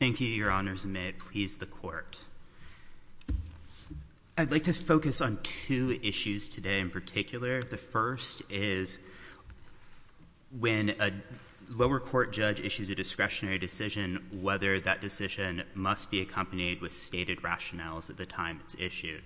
Thank you, Your Honors, and may it please the Court. I'd like to focus on two issues today in particular. The first is when a lower court judge issues a discretionary decision, whether that decision must be accompanied with stated rationales at the time it's issued.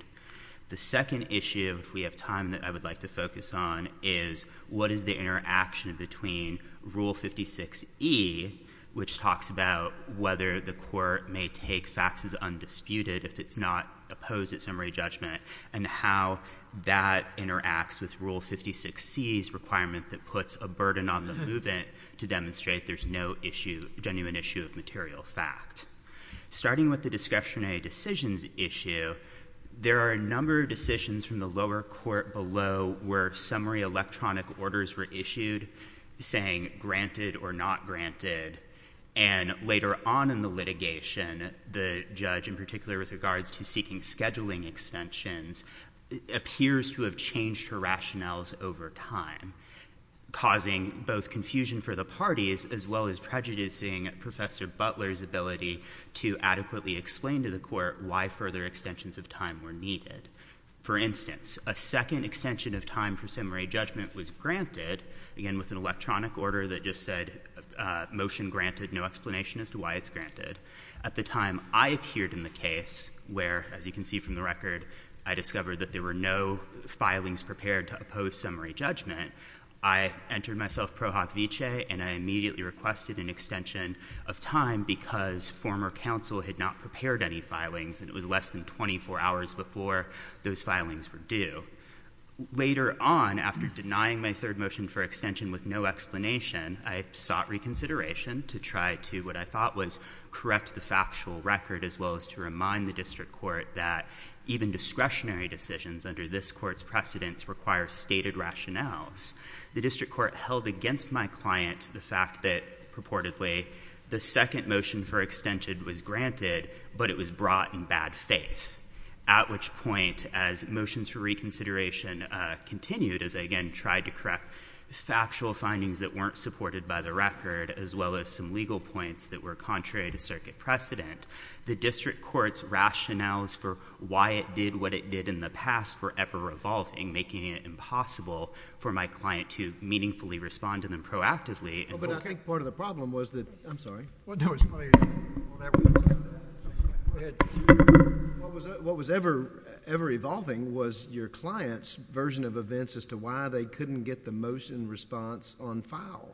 The second issue, if we have time, that I would like to focus on is what is the interaction between Rule 56E, which talks about whether the court may take faxes undisputed if it's not opposed at summary judgment, and how that interacts with Rule 56C's requirement that puts a burden on the movement to demonstrate there's no genuine issue of material fact. Starting with the discretionary decisions issue, there are a number of decisions from the lower court below where summary electronic orders were issued, saying granted or not granted, and later on in the litigation, the judge, in particular with regards to seeking scheduling extensions, appears to have changed her rationales over time, causing both confusion for the parties as well as prejudicing Professor Butler's ability to adequately explain to the court why further extensions of time were needed. For instance, a second extension of time for summary judgment was granted, again, with an electronic order that just said, motion granted, no explanation as to why it's granted. At the time I appeared in the case where, as you can see from the record, I discovered that there were no filings prepared to oppose summary judgment, I entered myself pro hoc vicee, and I immediately requested an extension of time because former counsel had not prepared any filings and it was less than 24 hours before those filings were due. Later on, after denying my third motion for extension with no explanation, I sought reconsideration to try to, what I thought was, correct the factual record as well as to remind the district court that even discretionary decisions under this court's precedents require stated rationales. The district court held against my client the fact that, purportedly, the second motion for extension was granted, but it was brought in bad faith. At which point, as motions for reconsideration continued, as I again tried to correct factual findings that weren't supported by the record, as well as some legal points that were contrary to circuit precedent, the district court's rationales for why it did what it did in the past were ever-evolving, making it impossible for my client to meaningfully respond to them proactively. I think part of the problem was that... I'm sorry. What was ever-evolving was your client's version of events as to why they couldn't get the motion response on file.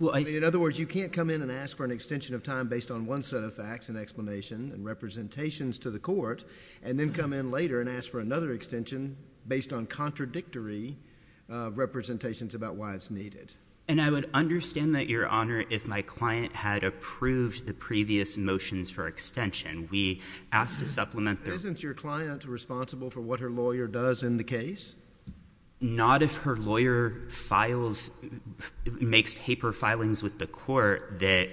In other words, you can't come in and ask for an extension of time based on one set of facts and explanation and representations to the court, and then come in later and ask for another extension based on contradictory representations about why it's needed. And I would understand that, Your Honor, if my client had approved the previous motions for extension. We asked to supplement the... Isn't your client responsible for what her lawyer does in the case? Not if her lawyer makes paper filings with the court that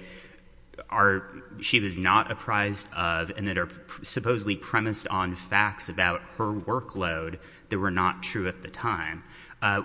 she was not apprised of and that are supposedly premised on facts about her workload that were not true at the time.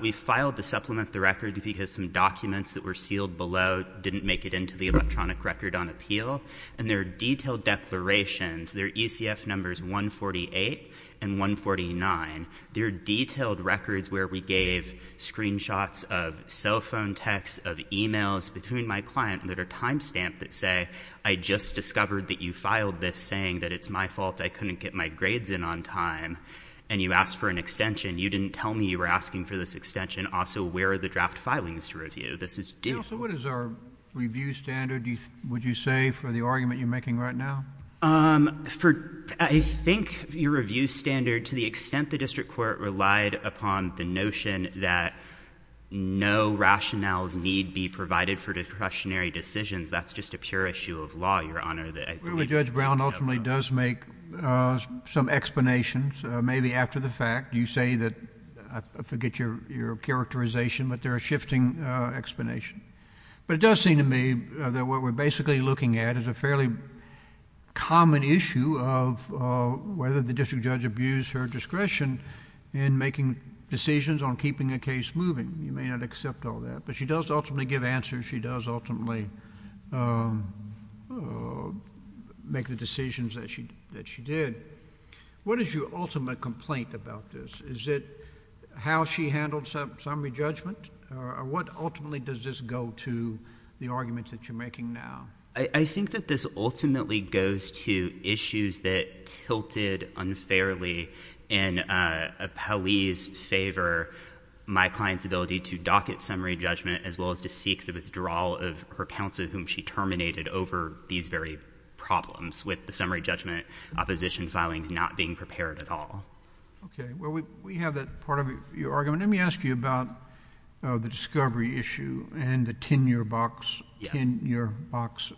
We filed to supplement the record because some documents that were sealed below didn't make it into the electronic record on appeal, and there are detailed declarations. There are ECF numbers 148 and 149. There are detailed records where we gave screenshots of cell phone texts, of emails between my client that are timestamped that say, I just discovered that you filed this saying that it's my fault I couldn't get my grades in on time, and you asked for an extension. You didn't tell me you were asking for this extension. Also, where are the draft filings to review? This is... Counsel, what is our review standard, would you say, for the argument you're making right now? I think your review standard, to the extent the district court relied upon the notion that no rationales need be provided for discretionary decisions, that's just a pure issue of law, Your Honor. Judge Brown ultimately does make some explanations, maybe after the fact. You say that... I forget your characterization, but there are shifting explanations. But it does seem to me that what we're basically looking at is a fairly common issue of whether the district judge abused her discretion in making decisions on keeping the case moving. You may not accept all that, but she does ultimately give answers. She does ultimately make the decisions that she did. What is your ultimate complaint about this? Is it how she handled summary judgment? What ultimately does this go to, the arguments that you're making now? I think that this ultimately goes to issues that tilted unfairly in Hallease's favor, my client's ability to docket summary judgment, as well as to seek the withdrawal of her counsel to whom she terminated over these very problems, with the summary judgment opposition filings not being prepared at all. Okay. Well, we have that part of your argument. Let me ask you about the discovery issue and the 10-year box, 10-year box.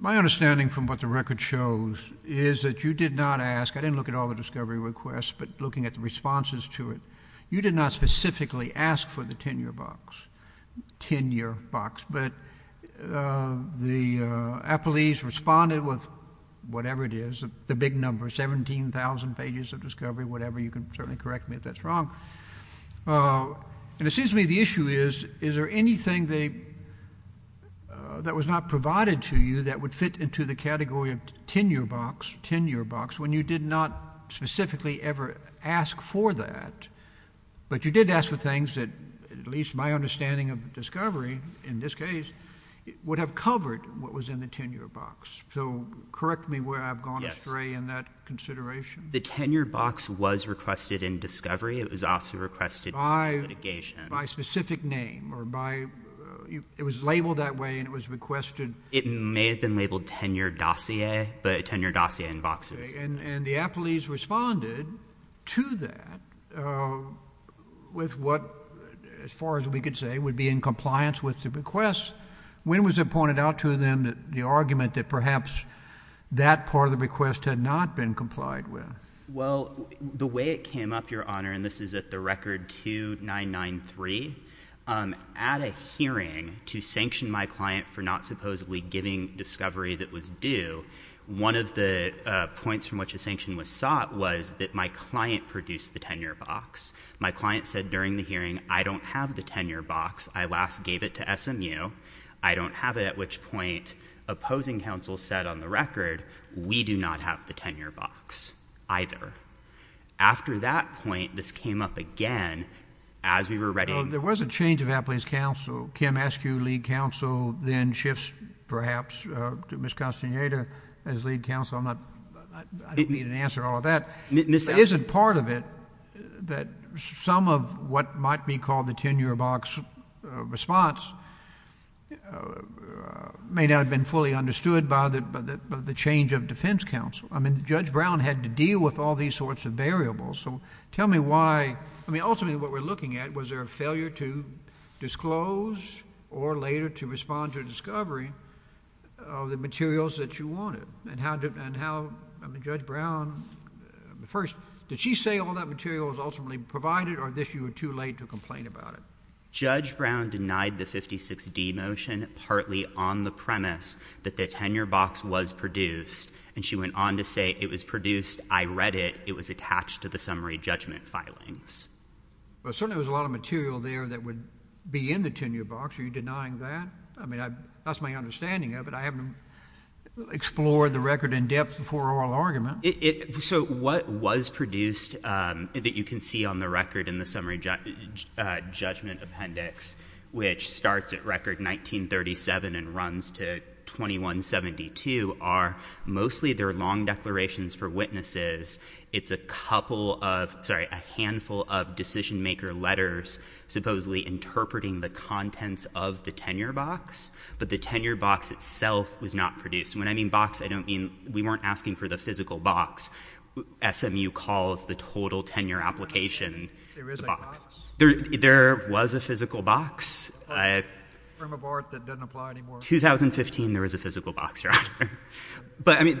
My understanding from what the record shows is that you did not ask... I didn't look at all the discovery requests, but looking at the responses to it, you did not specifically ask for the 10-year box, 10-year box, but the appellees responded with whatever it is, the big number, 17,000 pages of discovery, whatever. You can certainly correct me if that's wrong. And it seems to me the issue is, is there anything that was not provided to you that would fit into the category of 10-year box, 10-year box, when you did not specifically ever ask for that? But you did ask for things that, at least my understanding of discovery, in this case, would have covered what was in the 10-year box. So correct me where I've gone astray in that consideration. The 10-year box was requested in discovery. It was also requested in litigation. By specific name, or by... it was labeled that way, and it was requested... It may have been labeled 10-year dossier, but 10-year dossier in boxes. And the appellees responded to that with what, as far as we could say, would be in compliance with the request. When was it pointed out to them that the argument that perhaps that part of the request had not been complied with? Well, the way it came up, Your Honor, and this is at the record 2993, at a hearing to which a sanction was sought, was that my client produced the 10-year box. My client said during the hearing, I don't have the 10-year box. I last gave it to SMU. I don't have it. At which point, opposing counsel said on the record, we do not have the 10-year box either. After that point, this came up again as we were ready... Well, there was a change of appellee's counsel. Kim Askew, lead counsel, then shifts, perhaps, to Ms. Castaneda as lead counsel. I'm not... I don't need an answer to all of that. Is it part of it that some of what might be called the 10-year box response may not have been fully understood by the change of defense counsel? I mean, Judge Brown had to deal with all these sorts of variables. So tell me why... I mean, ultimately, what we're looking at, was there a failure to disclose or, later, to respond to a discovery of the materials that you wanted? And how... I mean, Judge Brown... First, did she say all that material was ultimately provided or, this, you were too late to complain about it? Judge Brown denied the 56D motion, partly on the premise that the 10-year box was produced, and she went on to say, it was produced, I read it, it was attached to the summary judgment filings. Well, certainly, there was a lot of material there that would be in the 10-year box. Are you denying that? I mean, that's my understanding of it. I haven't explored the record in depth before oral argument. So what was produced that you can see on the record in the summary judgment appendix, which starts at record 1937 and runs to 2172, are mostly their long declarations for witnesses. It's a couple of... sorry, a handful of decision-maker letters supposedly interpreting the contents of the 10-year box, but the 10-year box itself was not produced. And when I mean box, I don't mean... we weren't asking for the physical box. SMU calls the total 10-year application the box. There was a physical box. A form of art that doesn't apply anymore. 2015, there was a physical box, Your Honor. But, I mean,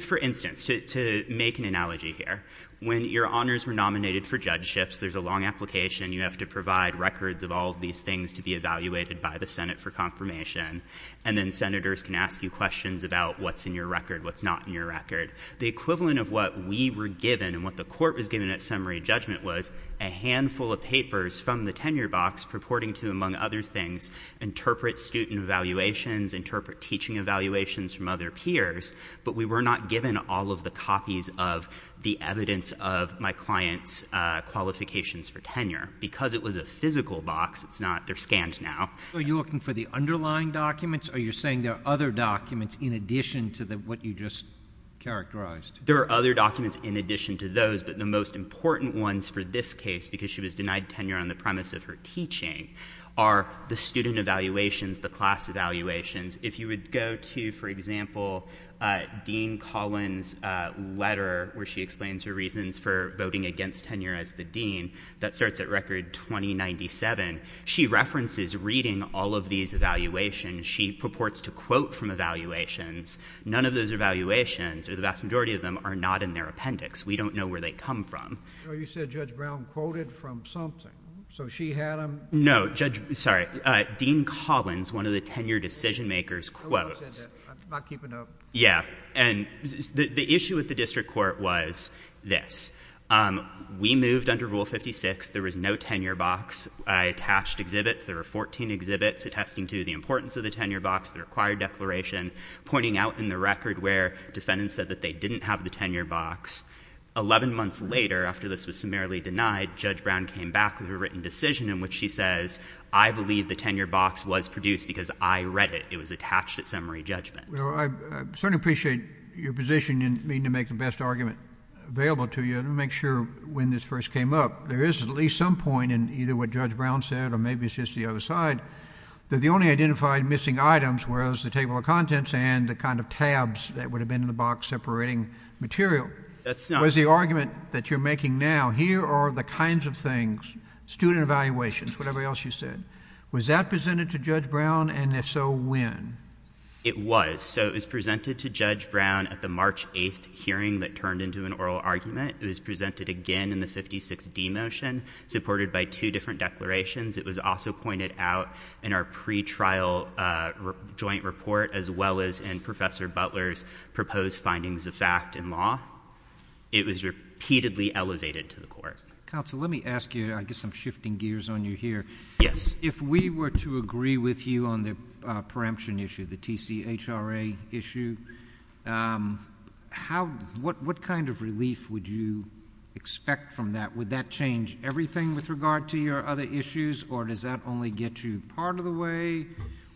for instance, to make an analogy here, when your honors were nominated for judgeships, there's a long application. You have to provide records of all of these things to be evaluated by the Senate for confirmation. And then senators can ask you questions about what's in your record, what's not in your record. The equivalent of what we were given and what the court was given at summary judgment was a handful of papers from the 10-year box purporting to, among other things, interpret student evaluations from other peers, but we were not given all of the copies of the evidence of my client's qualifications for tenure. Because it was a physical box, it's not... they're scanned now. Are you looking for the underlying documents, or you're saying there are other documents in addition to what you just characterized? There are other documents in addition to those, but the most important ones for this case, because she was denied tenure on the premise of her teaching, are the student evaluations, the class evaluations. If you would go to, for example, Dean Collins' letter where she explains her reasons for voting against tenure as the dean, that starts at record 2097, she references reading all of these evaluations. She purports to quote from evaluations. None of those evaluations, or the vast majority of them, are not in their appendix. We don't know where they come from. So you said Judge Brown quoted from something. So she had them... No, Judge... sorry. Dean Collins, one of the tenure decision makers, quotes... I'm not keeping up. Yeah. And the issue with the district court was this. We moved under Rule 56. There was no tenure box. I attached exhibits. There were 14 exhibits attesting to the importance of the tenure box, the required declaration, pointing out in the record where defendants said that they didn't have the tenure box. Eleven months later, after this was summarily denied, Judge Brown came back with a written decision in which she says, I believe the tenure box was produced because I read it. It was attached at summary judgment. Well, I certainly appreciate your position in needing to make the best argument available to you. Let me make sure, when this first came up, there is at least some point in either what Judge Brown said, or maybe it's just the other side, that the only identified missing items was the table of contents and the kind of tabs that would have been in the box separating material. That's not... So is the argument that you're making now, here are the kinds of things, student evaluations, whatever else you said, was that presented to Judge Brown, and if so, when? It was. So it was presented to Judge Brown at the March 8th hearing that turned into an oral argument. It was presented again in the 56D motion, supported by two different declarations. It was also pointed out in our pretrial joint report, as well as in Professor Butler's proposed findings of fact and law, it was repeatedly elevated to the Court. Counsel, let me ask you, I guess I'm shifting gears on you here. Yes. If we were to agree with you on the preemption issue, the TCHRA issue, what kind of relief would you expect from that? Would that change everything with regard to your other issues, or does that only get you part of the way,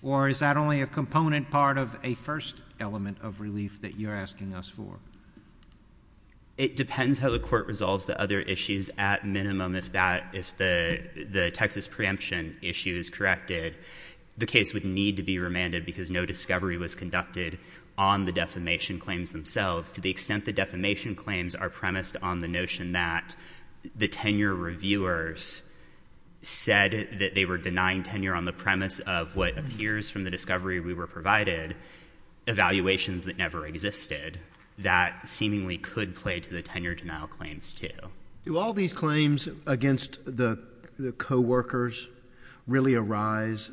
or is that only a component part of a first element of relief that you're asking us for? It depends how the Court resolves the other issues. At minimum, if the Texas preemption issue is corrected, the case would need to be remanded because no discovery was conducted on the defamation claims themselves, to the extent the defamation claims are premised on the notion that the tenure reviewers said that they were denying tenure on the premise of what appears from the discovery we were provided, evaluations that never existed, that seemingly could play to the tenure denial claims, too. Do all these claims against the co-workers really arise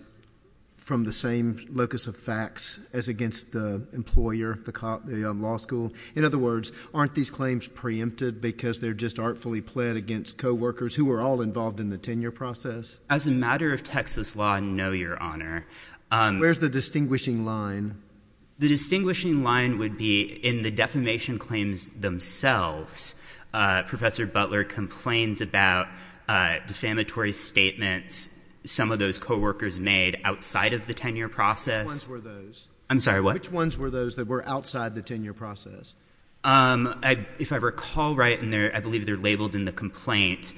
from the same locus of facts as against the employer, the law school? In other words, aren't these claims preempted because they're just artfully pled against co-workers who were all involved in the tenure process? As a matter of Texas law, no, Your Honor. Where's the distinguishing line? The distinguishing line would be in the defamation claims themselves. Professor Butler complains about defamatory statements some of those co-workers made outside of the tenure process. Which ones were those? I'm sorry, what? Which ones were those that were outside the tenure process? If I recall right, I believe they're labeled in the complaint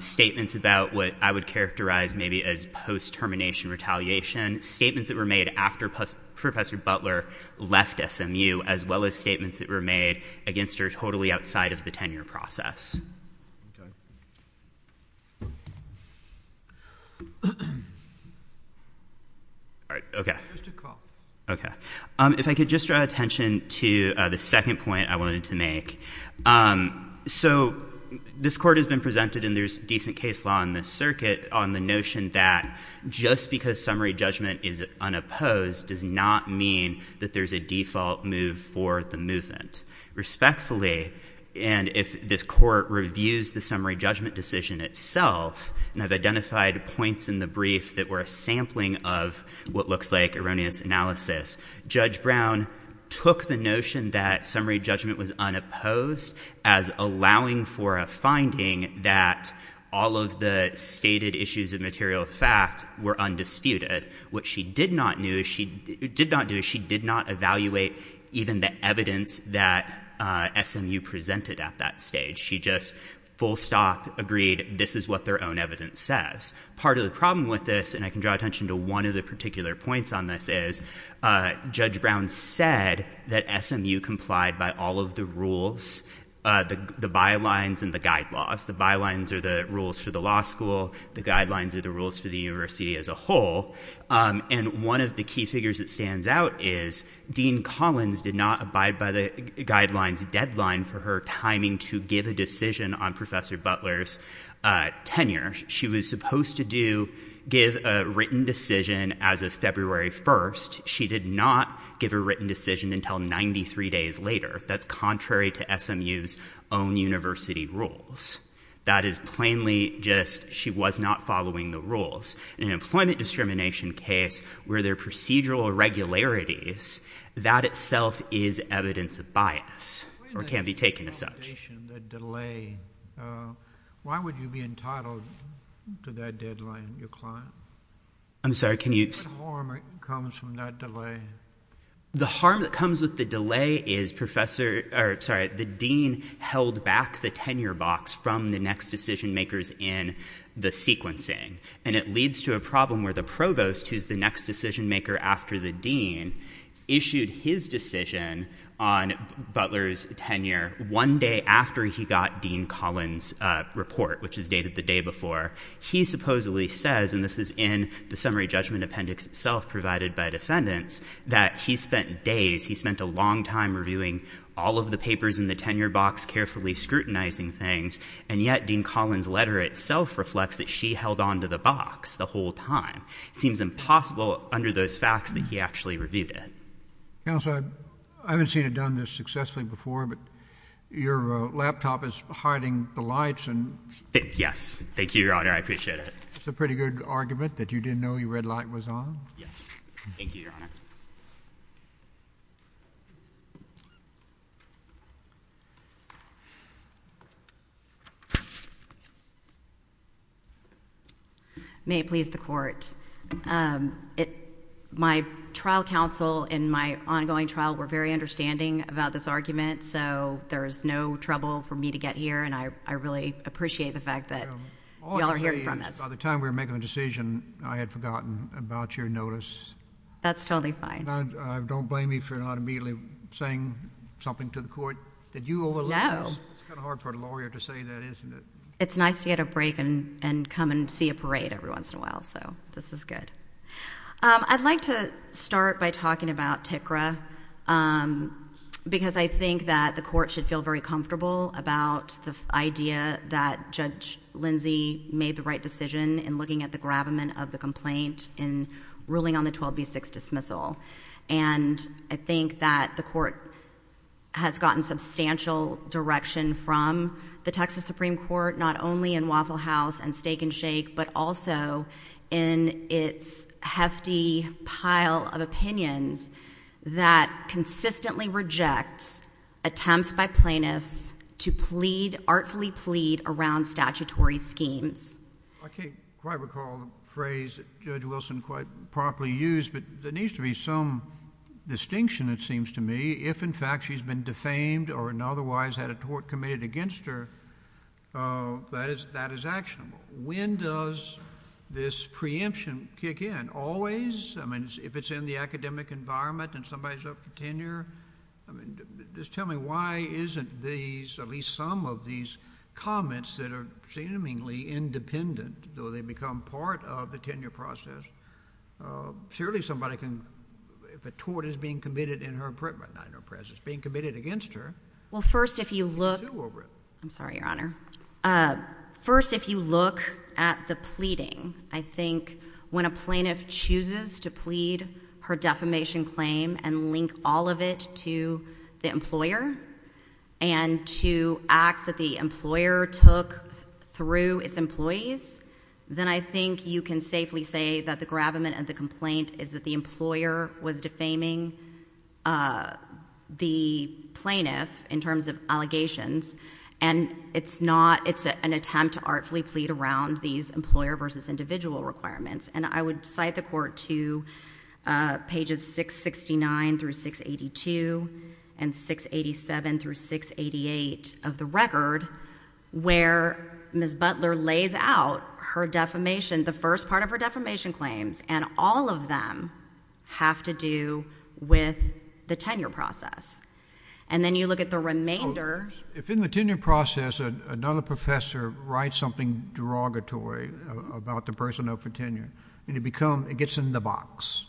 statements about what I would that were made after Professor Butler left SMU, as well as statements that were made against her totally outside of the tenure process. Okay. All right, okay. Just a call. Okay. If I could just draw attention to the second point I wanted to make. So this court has been presented in their decent case law in this circuit on the notion that just because summary judgment is unopposed does not mean that there's a default move for the movement. Respectfully, and if this court reviews the summary judgment decision itself, and I've identified points in the brief that were a sampling of what looks like erroneous analysis, Judge Brown took the notion that summary judgment was unopposed as allowing for a finding that all of the stated issues of material fact were undisputed. What she did not do is she did not evaluate even the evidence that SMU presented at that stage. She just full stop agreed this is what their own evidence says. Part of the problem with this, and I can draw attention to one of the particular points on this, is Judge Brown said that SMU complied by all of the rules, the bylines and the guide laws. The bylines are the rules for the law school, the guidelines are the rules for the university as a whole, and one of the key figures that stands out is Dean Collins did not abide by the guidelines deadline for her timing to give a decision on Professor Butler's tenure. She was supposed to give a written decision as of February 1st. She did not give a written decision until 93 days later. That's contrary to SMU's own university rules. That is plainly just she was not following the rules. In an employment discrimination case where there are procedural irregularities, that itself is evidence of bias or can be taken as such. Why would you be entitled to that deadline? I'm sorry, can you? What harm comes from that delay? The harm that comes with the delay is the Dean held back the tenure box from the next decision makers in the sequencing, and it leads to a problem where the Provost, who's the next decision maker after the Dean, issued his decision on Butler's tenure one day after he got Dean Collins' report, which is dated the day before. He supposedly says, and this is in the summary judgment appendix itself provided by defendants, that he spent days, he spent a long time reviewing all of the papers in the tenure box, carefully scrutinizing things, and yet Dean Collins' letter itself reflects that she held on to the box the whole time. It seems impossible under those facts that he actually reviewed it. Counsel, I haven't seen it done this successfully before, but your laptop is hiding the lights and — Yes. Thank you, Your Honor. I appreciate it. It's a pretty good argument, that you didn't know your red light was on? Yes. Thank you, Your Honor. May it please the Court. My trial counsel in my ongoing trial were very understanding about this argument, so there is no trouble for me to get here, and I really appreciate the fact that you all are hearing from us. All I can say is, by the time we were making the decision, I had forgotten about your notice. That's totally fine. Don't blame me for not immediately saying something to the Court that you overlooked. No. It's kind of hard for a lawyer to say that, isn't it? It's nice to get a break and come and see a parade every once in a while, so this is good. I'd like to start by talking about TCRA, because I think that the Court should feel very comfortable about the idea that Judge Lindsey made the right decision in looking at the gravamen of the complaint in ruling on the 12B6 dismissal, and I think that the Court has gotten substantial direction from the Texas Supreme Court, not only in Waffle Street, but in the entire state of Texas, and I think that the Court should feel very Texas Supreme Court, not only in looking at the gravamen of the complaint in ruling on the 12B6 dismissal, and I think that the Court has gotten substantial direction from the Texas Supreme Court, not only in looking at the gravamen of the complaint in ruling on the 12B6 dismissal, and I think that the Court has gotten substantial direction from the plaintiff. If the plaintiff chooses to plead her defamation claim and link all of it to the employer, and to acts that the employer took through its employees, then I think you can safely say that the gravamen of the complaint is that the employer was defaming the plaintiff in terms of allegations, and it's not, it's an attempt to artfully plead around these claims. And then the court, the court has decided to go back and rewrite the Court to pages 669 through 682 and 687 through 688 of the record, where Ms. Butler lays out her defamation, the first part of her defamation claims, and all of them have to do with the person of her tenure. And it becomes, it gets in the box.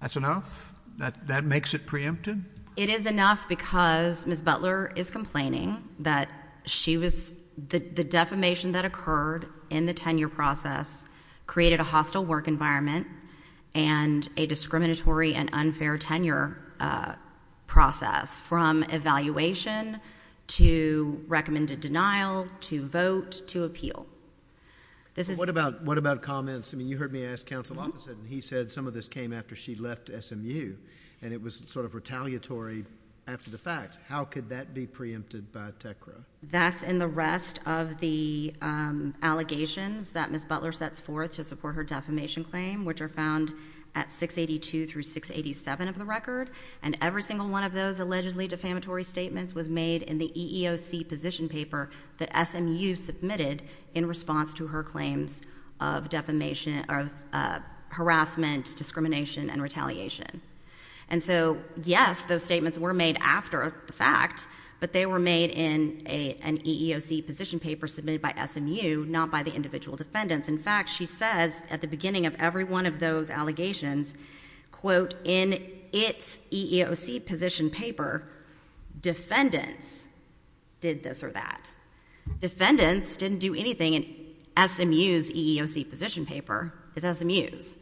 That's enough? That makes it preempted? It is enough because Ms. Butler is complaining that she was, the defamation that occurred in the tenure process created a hostile work environment and a discriminatory and unfair tenure process, from evaluation to recommended denial, to vote, to appeal. What about, what about comments? I mean, you heard me ask Counsel Offit, and he said some of this came after she left SMU, and it was sort of retaliatory after the fact. How could that be preempted by TECRA? That's in the rest of the allegations that Ms. Butler sets forth to support her defamation claim, which are found at 682 through 687 of the record, and every single one of those allegedly defamatory statements was made in the EEOC position paper that SMU submitted in response to her claims of defamation, of harassment, discrimination, and retaliation. And so, yes, those statements were made after the fact, but they were made in an EEOC position paper submitted by SMU, not by the individual defendants. In fact, she says at the beginning of every one of those allegations, quote, in its EEOC position paper, defendants did this or that. Defendants didn't do anything in SMU's EEOC position paper. It's SMU's.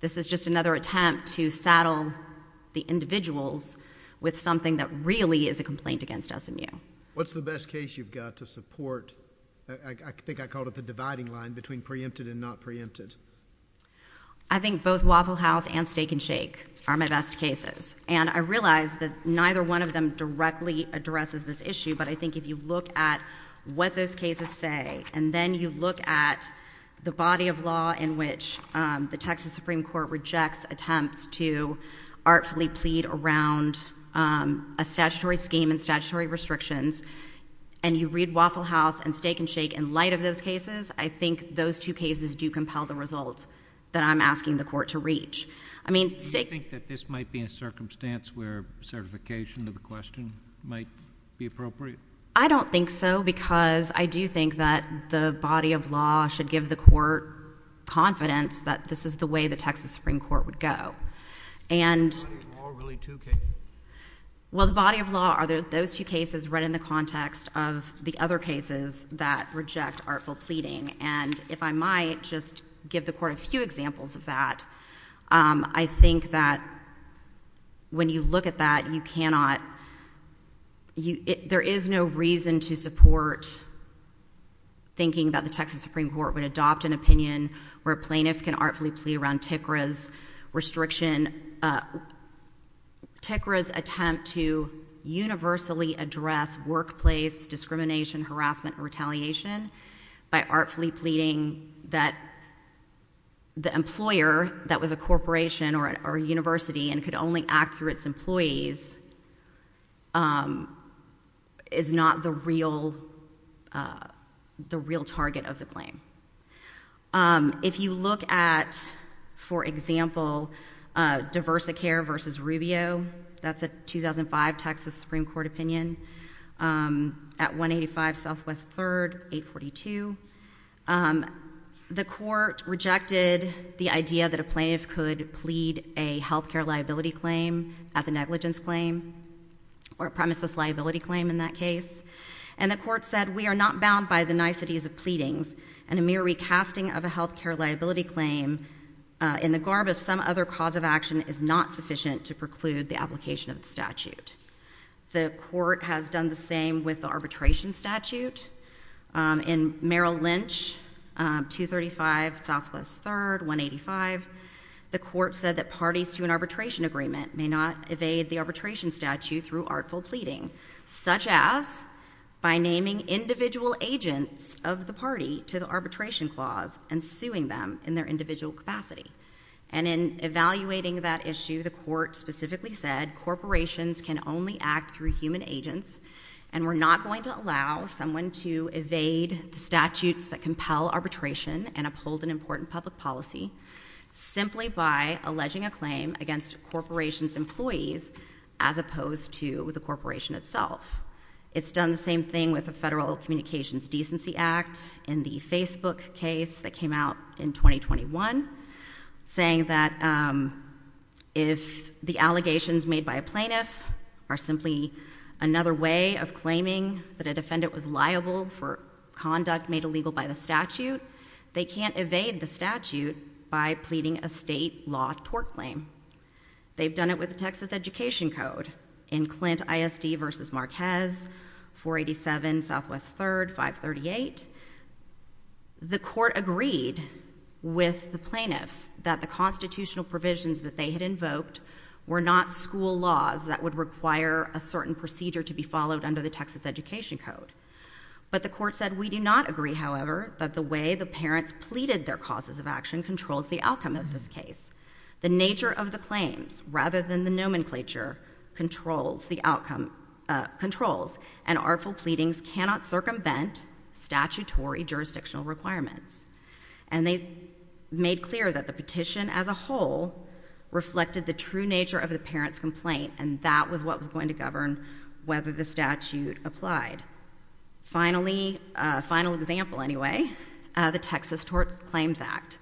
This is just another attempt to saddle the individuals with something that really is a complaint against SMU. What's the best case you've got to support, I think I called it the dividing line between preempted and not preempted? I think both Waffle House and Steak and Shake are my best cases, and I realize that neither one of them directly addresses this issue, but I think if you look at what those cases say, and then you look at the body of law in which the Texas Supreme Court rejects attempts to artfully plead around a statutory scheme and statutory restrictions, and you read Waffle House and Steak and Shake in light of those cases, I think those two cases do compel the result that I'm asking the Court to reach. Do you think that this might be a circumstance where certification of the question might be appropriate? I don't think so, because I do think that the body of law should give the Court confidence that this is the way the Texas Supreme Court would go. Are those two cases read in the context of the other cases that reject artful pleading? If I might, just give the Court a few examples of that. I think that when you look at that, there is no reason to support thinking that the Texas Supreme Court would adopt an opinion where a plaintiff can artfully plead around TICRA's restriction, TICRA's attempt to universally address workplace discrimination, harassment and retaliation, by artfully pleading that the employer that was a corporation or a university and could only act through its employees is not the real target of the claim. If you look at, for example, Diversicare versus Rubio, that's a 2005 Texas Supreme Court opinion, at 185 Southwest 3rd, 842, the Court rejected the idea that a plaintiff could plead a health care liability claim as a negligence claim, or a premises liability claim in that case, and the Court said, we are not bound by the niceties of pleadings, and a mere recasting of a health care liability claim in the garb of some other cause of action is not sufficient to preclude the application of the statute. The Court has done the same with the arbitration statute. In Merrill Lynch, 235 Southwest 3rd, 185, the Court said that parties to an arbitration agreement may not evade the arbitration statute through artful pleading, such as by naming individual agents of the party to the arbitration clause and suing them in their individual capacity. And in evaluating that issue, the Court said, we can only act through human agents, and we're not going to allow someone to evade the statutes that compel arbitration and uphold an important public policy simply by alleging a claim against a corporation's employees as opposed to the corporation itself. It's done the same thing with the Federal Communications Decency Act in the Facebook case that came out in 2021, saying that if the allegations made by a plaintiff are not are simply another way of claiming that a defendant was liable for conduct made illegal by the statute, they can't evade the statute by pleading a state law tort claim. They've done it with the Texas Education Code in Clint ISD v. Marquez, 487 Southwest 3rd, 538. The Court agreed with the plaintiffs that the constitutional provisions that they had invoked were not school laws that would require a certain procedure to be followed under the Texas Education Code. But the Court said, we do not agree, however, that the way the parents pleaded their causes of action controls the outcome of this case. The nature of the claims, rather than the nomenclature, controls the outcome, controls, and artful pleadings cannot circumvent statutory jurisdictional requirements. And they made clear that the true nature of the parent's complaint, and that was what was going to govern whether the statute applied. Finally, a final example anyway, the Texas Tort Claims Act.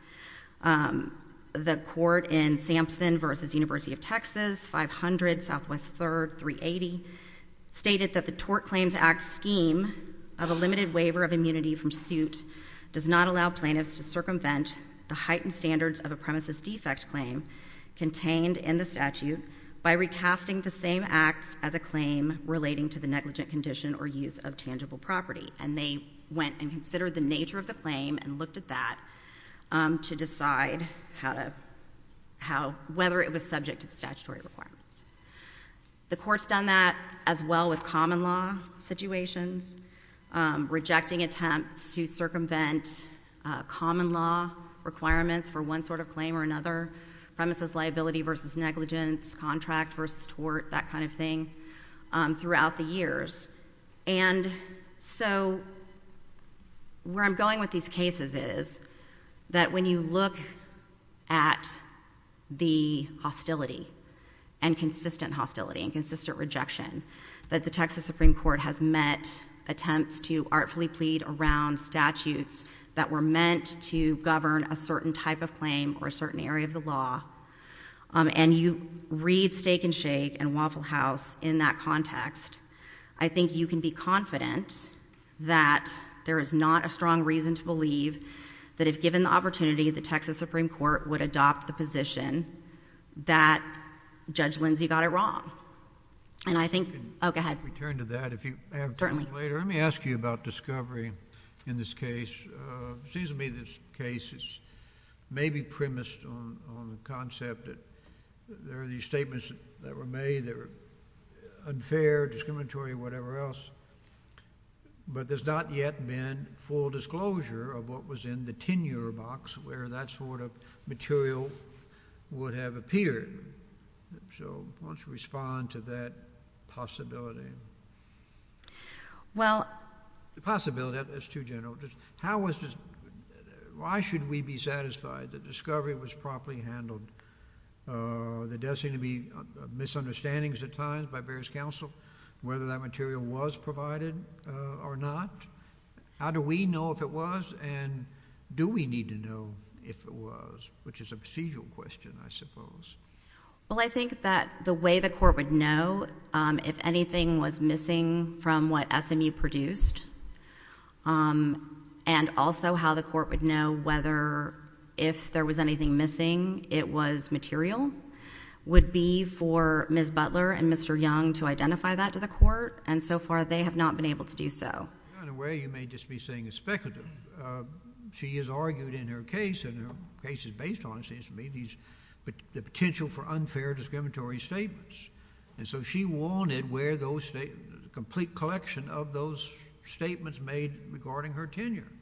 The Court in Sampson v. University of Texas, 500 Southwest 3rd, 380, stated that the Tort Claims Act scheme of a limited waiver of immunity from suit does not allow plaintiffs to circumvent the heightened standards of a premises defect claim contained in the statute by recasting the same acts as a claim relating to the negligent condition or use of tangible property. And they went and considered the nature of the claim and looked at that to decide whether it was subject to the statutory requirements. The Court's done that as well with common law situations, rejecting attempts to circumvent common law requirements for one sort of claim or another, premises liability versus negligence, contract versus tort, that kind of thing, throughout the years. And so where I'm going with these cases is that when you look at the hostility and consistent hostility and consistent rejection that the Texas Supreme Court has met attempts to artfully plead around statutes that were meant to govern a certain type of claim or a certain area of the law, and you read Steak and Shake and Waffle House in that context, I think you can be confident that there is not a strong reason to believe that if given the opportunity, the Texas Supreme Court would adopt the position that Judge Lindsey got it wrong. And I think... Oh, go ahead. Let me turn to that. If you have time later, let me ask you about discovery in this case. It seems to me this case is maybe premised on the concept that there are these statements that were made that were unfair, discriminatory, whatever else, but there's not yet been full disclosure of what was in the tenure box where that sort of material would have appeared. So why don't you respond to that possibility? The possibility, that's too general. Why should we be satisfied that discovery was properly handled? There does seem to be misunderstandings at times by various counsel, whether that material was provided or not. How do we know if it was, and do we need to know if it was, which is a procedural question, I suppose. Well, I think that the way the Court would know if anything was missing from what SMU produced, and also how the Court would know whether if there was anything missing, it was material, would be for Ms. Butler and Mr. Young to identify that to the Court. And so far, they have not been able to do so. In a way, you may just be saying it's speculative. She has argued in her case, and her case is based on, it seems to me, the potential for unfair discriminatory statements. And so she wanted a complete collection of those statements made regarding her tenure.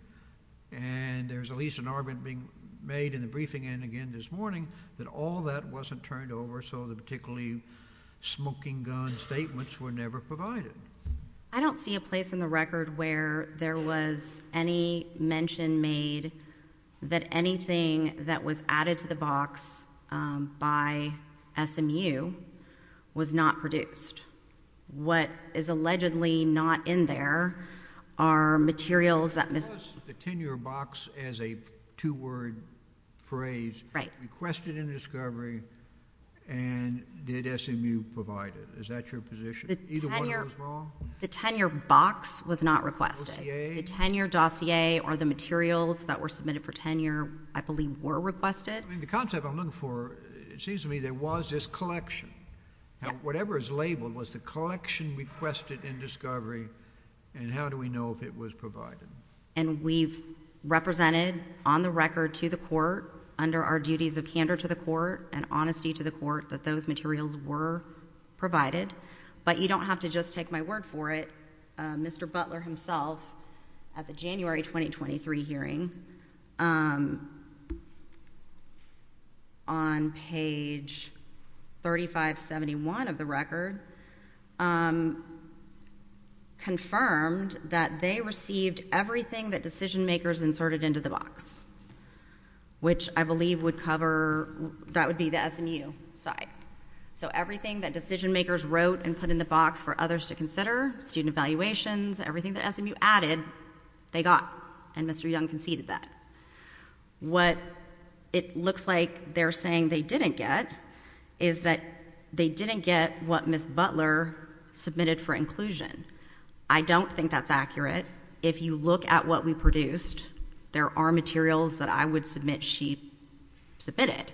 And there's at least an argument being made in the briefing and again this morning, that all that wasn't turned over, so the particularly smoking gun statements were never provided. I don't see a place in the record where there was any mention made that anything that was added to the box by SMU was not produced. What is allegedly not in there are materials that Ms.... How is the tenure box, as a two-word phrase, requested in discovery, and did SMU provide it? Is that your position? Either one of those wrong? The tenure box was not requested. Dossier? The tenure dossier or the materials that were submitted for tenure, I believe, were requested. I mean, the concept I'm looking for, it seems to me there was this collection. Whatever is labeled was the collection requested in discovery, and how do we know if it was provided? And we've represented on the record to the court, under our duties of candor to the court and honesty to the court, that those materials were provided. But you don't have to just take my word for it. Mr. Butler himself, at the January 2023 hearing, on page 3571 of the record, confirmed that they received everything that decision-makers inserted into the box, which I believe would cover... that would be the SMU side. So everything that decision-makers wrote and put in the box for others to consider, student evaluations, everything that SMU added, they got, and Mr. Young conceded that. What it looks like they're saying they didn't get is that they didn't get what Ms. Butler submitted for inclusion. I don't think that's accurate. If you look at what we produced, there are materials that I would submit she submitted.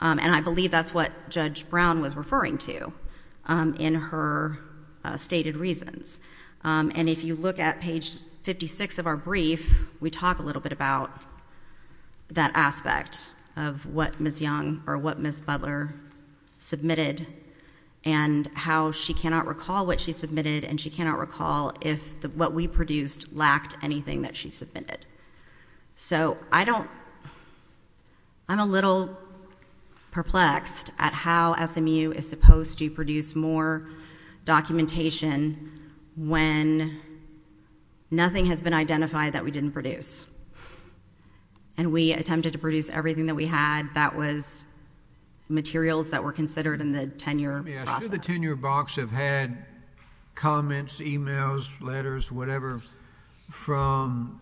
And I believe that's what Judge Brown was referring to in her stated reasons. And if you look at page 56 of our brief, we talk a little bit about that aspect of what Ms. Young or what Ms. Butler submitted and how she cannot recall what she submitted and she cannot recall if what we produced lacked anything that she submitted. So I don't... I'm a little perplexed at how SMU is supposed to produce more documentation when nothing has been identified that we didn't produce. And we attempted to produce everything that we had that was materials that were considered in the tenure process. Let me ask, do the tenure box have had comments, emails, letters, whatever, from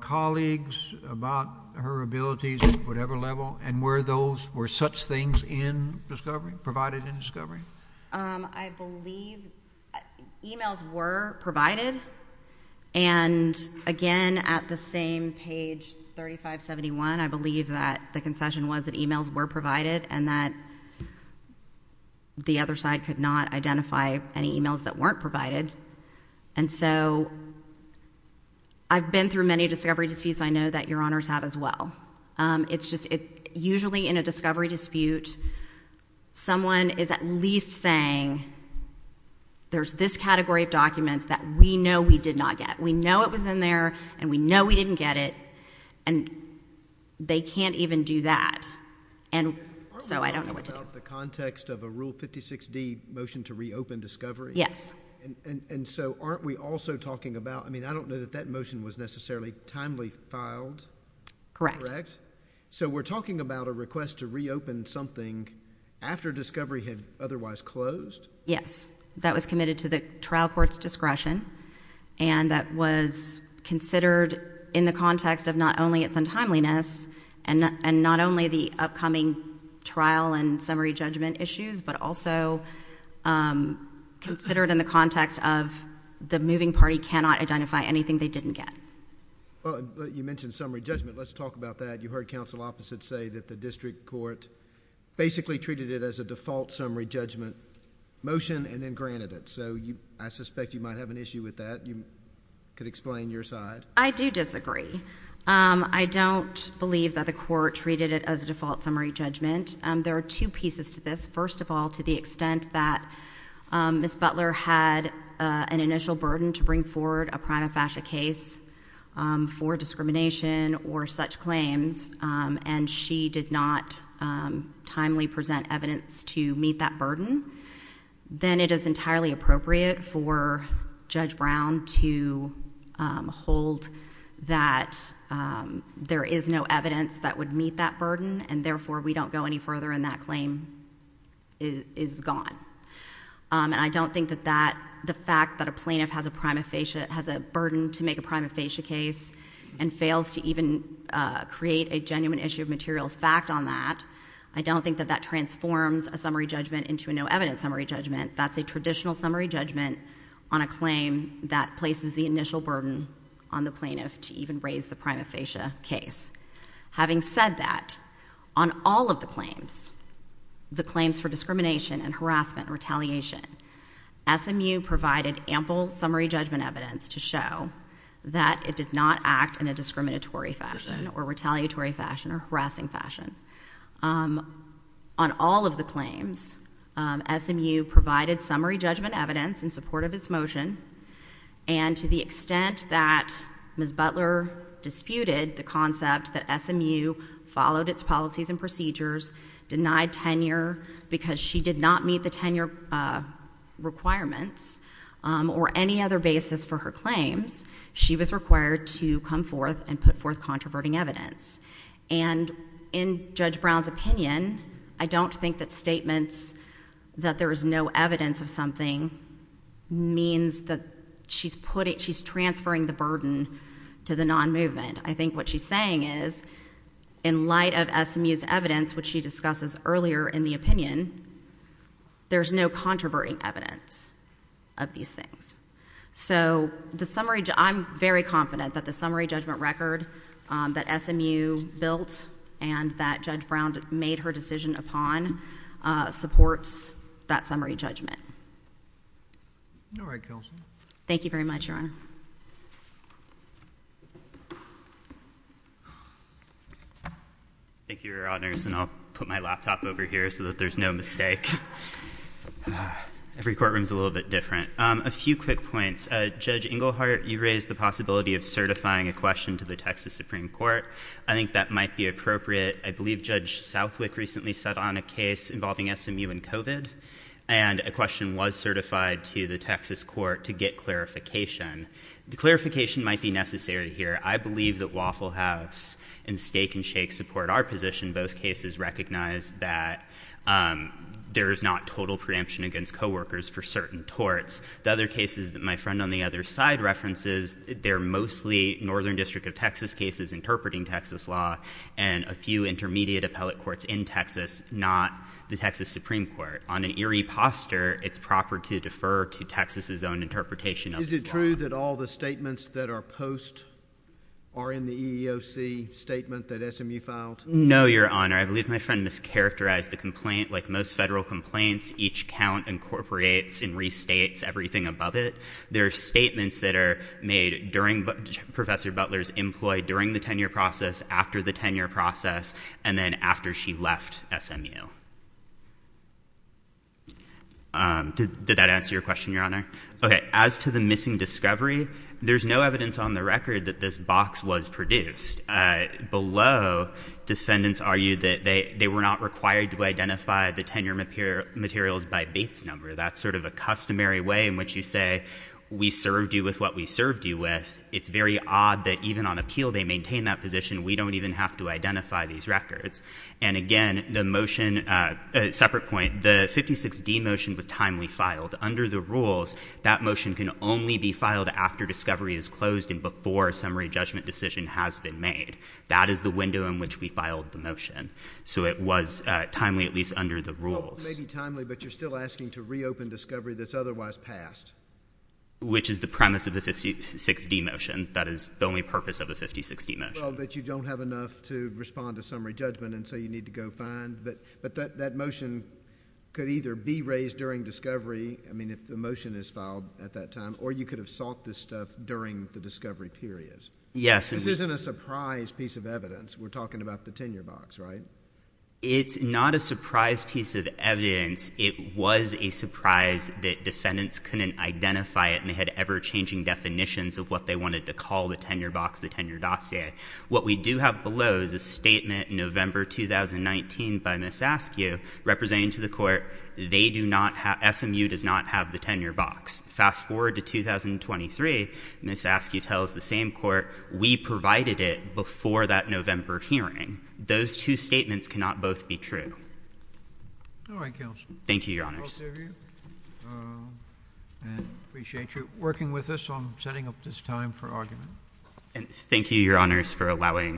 colleagues about her abilities at whatever level? And were those... were such things in discovery, provided in discovery? I believe emails were provided. And again, at the same page 3571, I believe that the concession was that emails were provided and that the other side could not identify any emails that weren't provided. And so I've been through many discovery disputes. I know that your Honors have as well. It's just... usually in a discovery dispute, someone is at least saying, there's this category of documents that we know we did not get. We know it was in there and we know we didn't get it. And they can't even do that. And so I don't know what to do. Aren't we talking about the context of a Rule 56D motion to reopen discovery? Yes. And so aren't we also talking about... I mean, I don't know that that motion was necessarily timely filed. Correct. Correct. So we're talking about a request to reopen something after discovery had otherwise closed? Yes. That was committed to the trial court's discretion. And that was considered in the context of not only its untimeliness and not only the upcoming trial and summary judgment issues, but also considered in the context of the moving party cannot identify anything they didn't get. You mentioned summary judgment. Let's talk about that. You heard counsel opposite say that the district court basically treated it as a default summary judgment motion and then granted it. So I suspect you might have an issue with that. You could explain your side. I do disagree. I don't believe that the court treated it as a default summary judgment. There are two pieces to this. First of all, to the extent that Ms. Butler had an initial burden to bring forward a prima facie case for discrimination or such claims and she did not timely present evidence to meet that burden, then it is entirely appropriate for Judge Brown to hold that there is no evidence that would meet that burden and therefore we don't go any further and that claim is gone. And I don't think that the fact that a plaintiff has a burden to make a prima facie case and fails to even create a genuine issue of material fact on that, I don't think that that transforms a summary judgment into a no evidence summary judgment. That's a traditional summary judgment on a claim that places the initial burden on the plaintiff to even raise the prima facie case. Having said that, on all of the claims, the claims for discrimination and harassment and summary judgment evidence to show that it did not act in a discriminatory fashion or retaliatory fashion or harassing fashion. On all of the claims, SMU provided summary judgment evidence in support of its motion and to the extent that Ms. Butler disputed the concept that SMU followed its policies and procedures, denied tenure because she did not meet the tenure requirements or any other basis for her claims, she was required to come forth and put forth controverting evidence. And in Judge Brown's opinion, I don't think that statements that there is no evidence of something means that she's transferring the burden to the non-movement. I think what she's saying is, in light of the opinion, there's no controverting evidence of these things. So the summary, I'm very confident that the summary judgment record that SMU built and that Judge Brown made her decision upon supports that summary judgment. All right, Counsel. Thank you very much, Your Honor. Thank you, Your Honors. And I'll put my laptop over here so that there's no mistake. Every courtroom's a little bit different. A few quick points. Judge Engelhardt, you raised the possibility of certifying a question to the Texas Supreme Court. I think that might be appropriate. I believe Judge Southwick recently set on a case involving SMU and COVID and a question was certified to the Texas court to get clarification. The clarification might be necessary here. I believe that Waffle House and Steak and Shake support our position. Both cases recognize that there is not total preemption against co-workers for certain torts. The other cases that my friend on the other side references, they're mostly Northern District of Texas cases interpreting Texas law and a few intermediate appellate courts in Texas, not the Texas Supreme Court. On an eerie posture, it's proper to defer to Texas' own interpretation of the law. Is it true that all the statements that are post are in the EEOC statement that SMU filed? No, Your Honor. I believe my friend mischaracterized the complaint. Like most federal complaints, each count incorporates and restates everything above it. There are statements that are made during Professor Butler's employ, during the tenure process, after the tenure process, and then after she left SMU. Did that answer your question, Your Honor? As to the missing discovery, there's no evidence on the record that this box was produced. Below, defendants argue that they were not required to identify the tenure materials by Bates number. That's sort of a customary way in which you say, we served you with what we served you with. It's very odd that even on appeal, they maintain that position. We don't even have to identify these records. And again, the motion, separate point, the 56D motion was timely filed. Under the rules, that motion can only be filed after discovery is closed and before a summary judgment decision has been made. That is the window in which we filed the motion. So it was timely, at least under the rules. Well, maybe timely, but you're still asking to reopen discovery that's otherwise passed. Which is the premise of the 56D motion. That is the only purpose of the 56D motion. Well, that you don't have enough to respond to summary judgment, and so you need to go find. But that motion could either be raised during discovery, I mean, if the motion is filed at that time, or you could have sought this stuff during the discovery period. Yes. This isn't a surprise piece of evidence. We're talking about the tenure box, right? It's not a surprise piece of evidence. It was a surprise that defendants couldn't identify it and they had ever-changing definitions of what they wanted to call the tenure box, the tenure dossier. What we do have below is a statement in November 2019 by Ms. Askew representing to the court, SMU does not have the tenure box. Fast forward to 2023, Ms. Askew provided it before that November hearing. Those two statements cannot both be true. All right, counsel. Thank you, your honors. Both of you. Appreciate you working with us on setting up this time for argument. And thank you, your honors, for allowing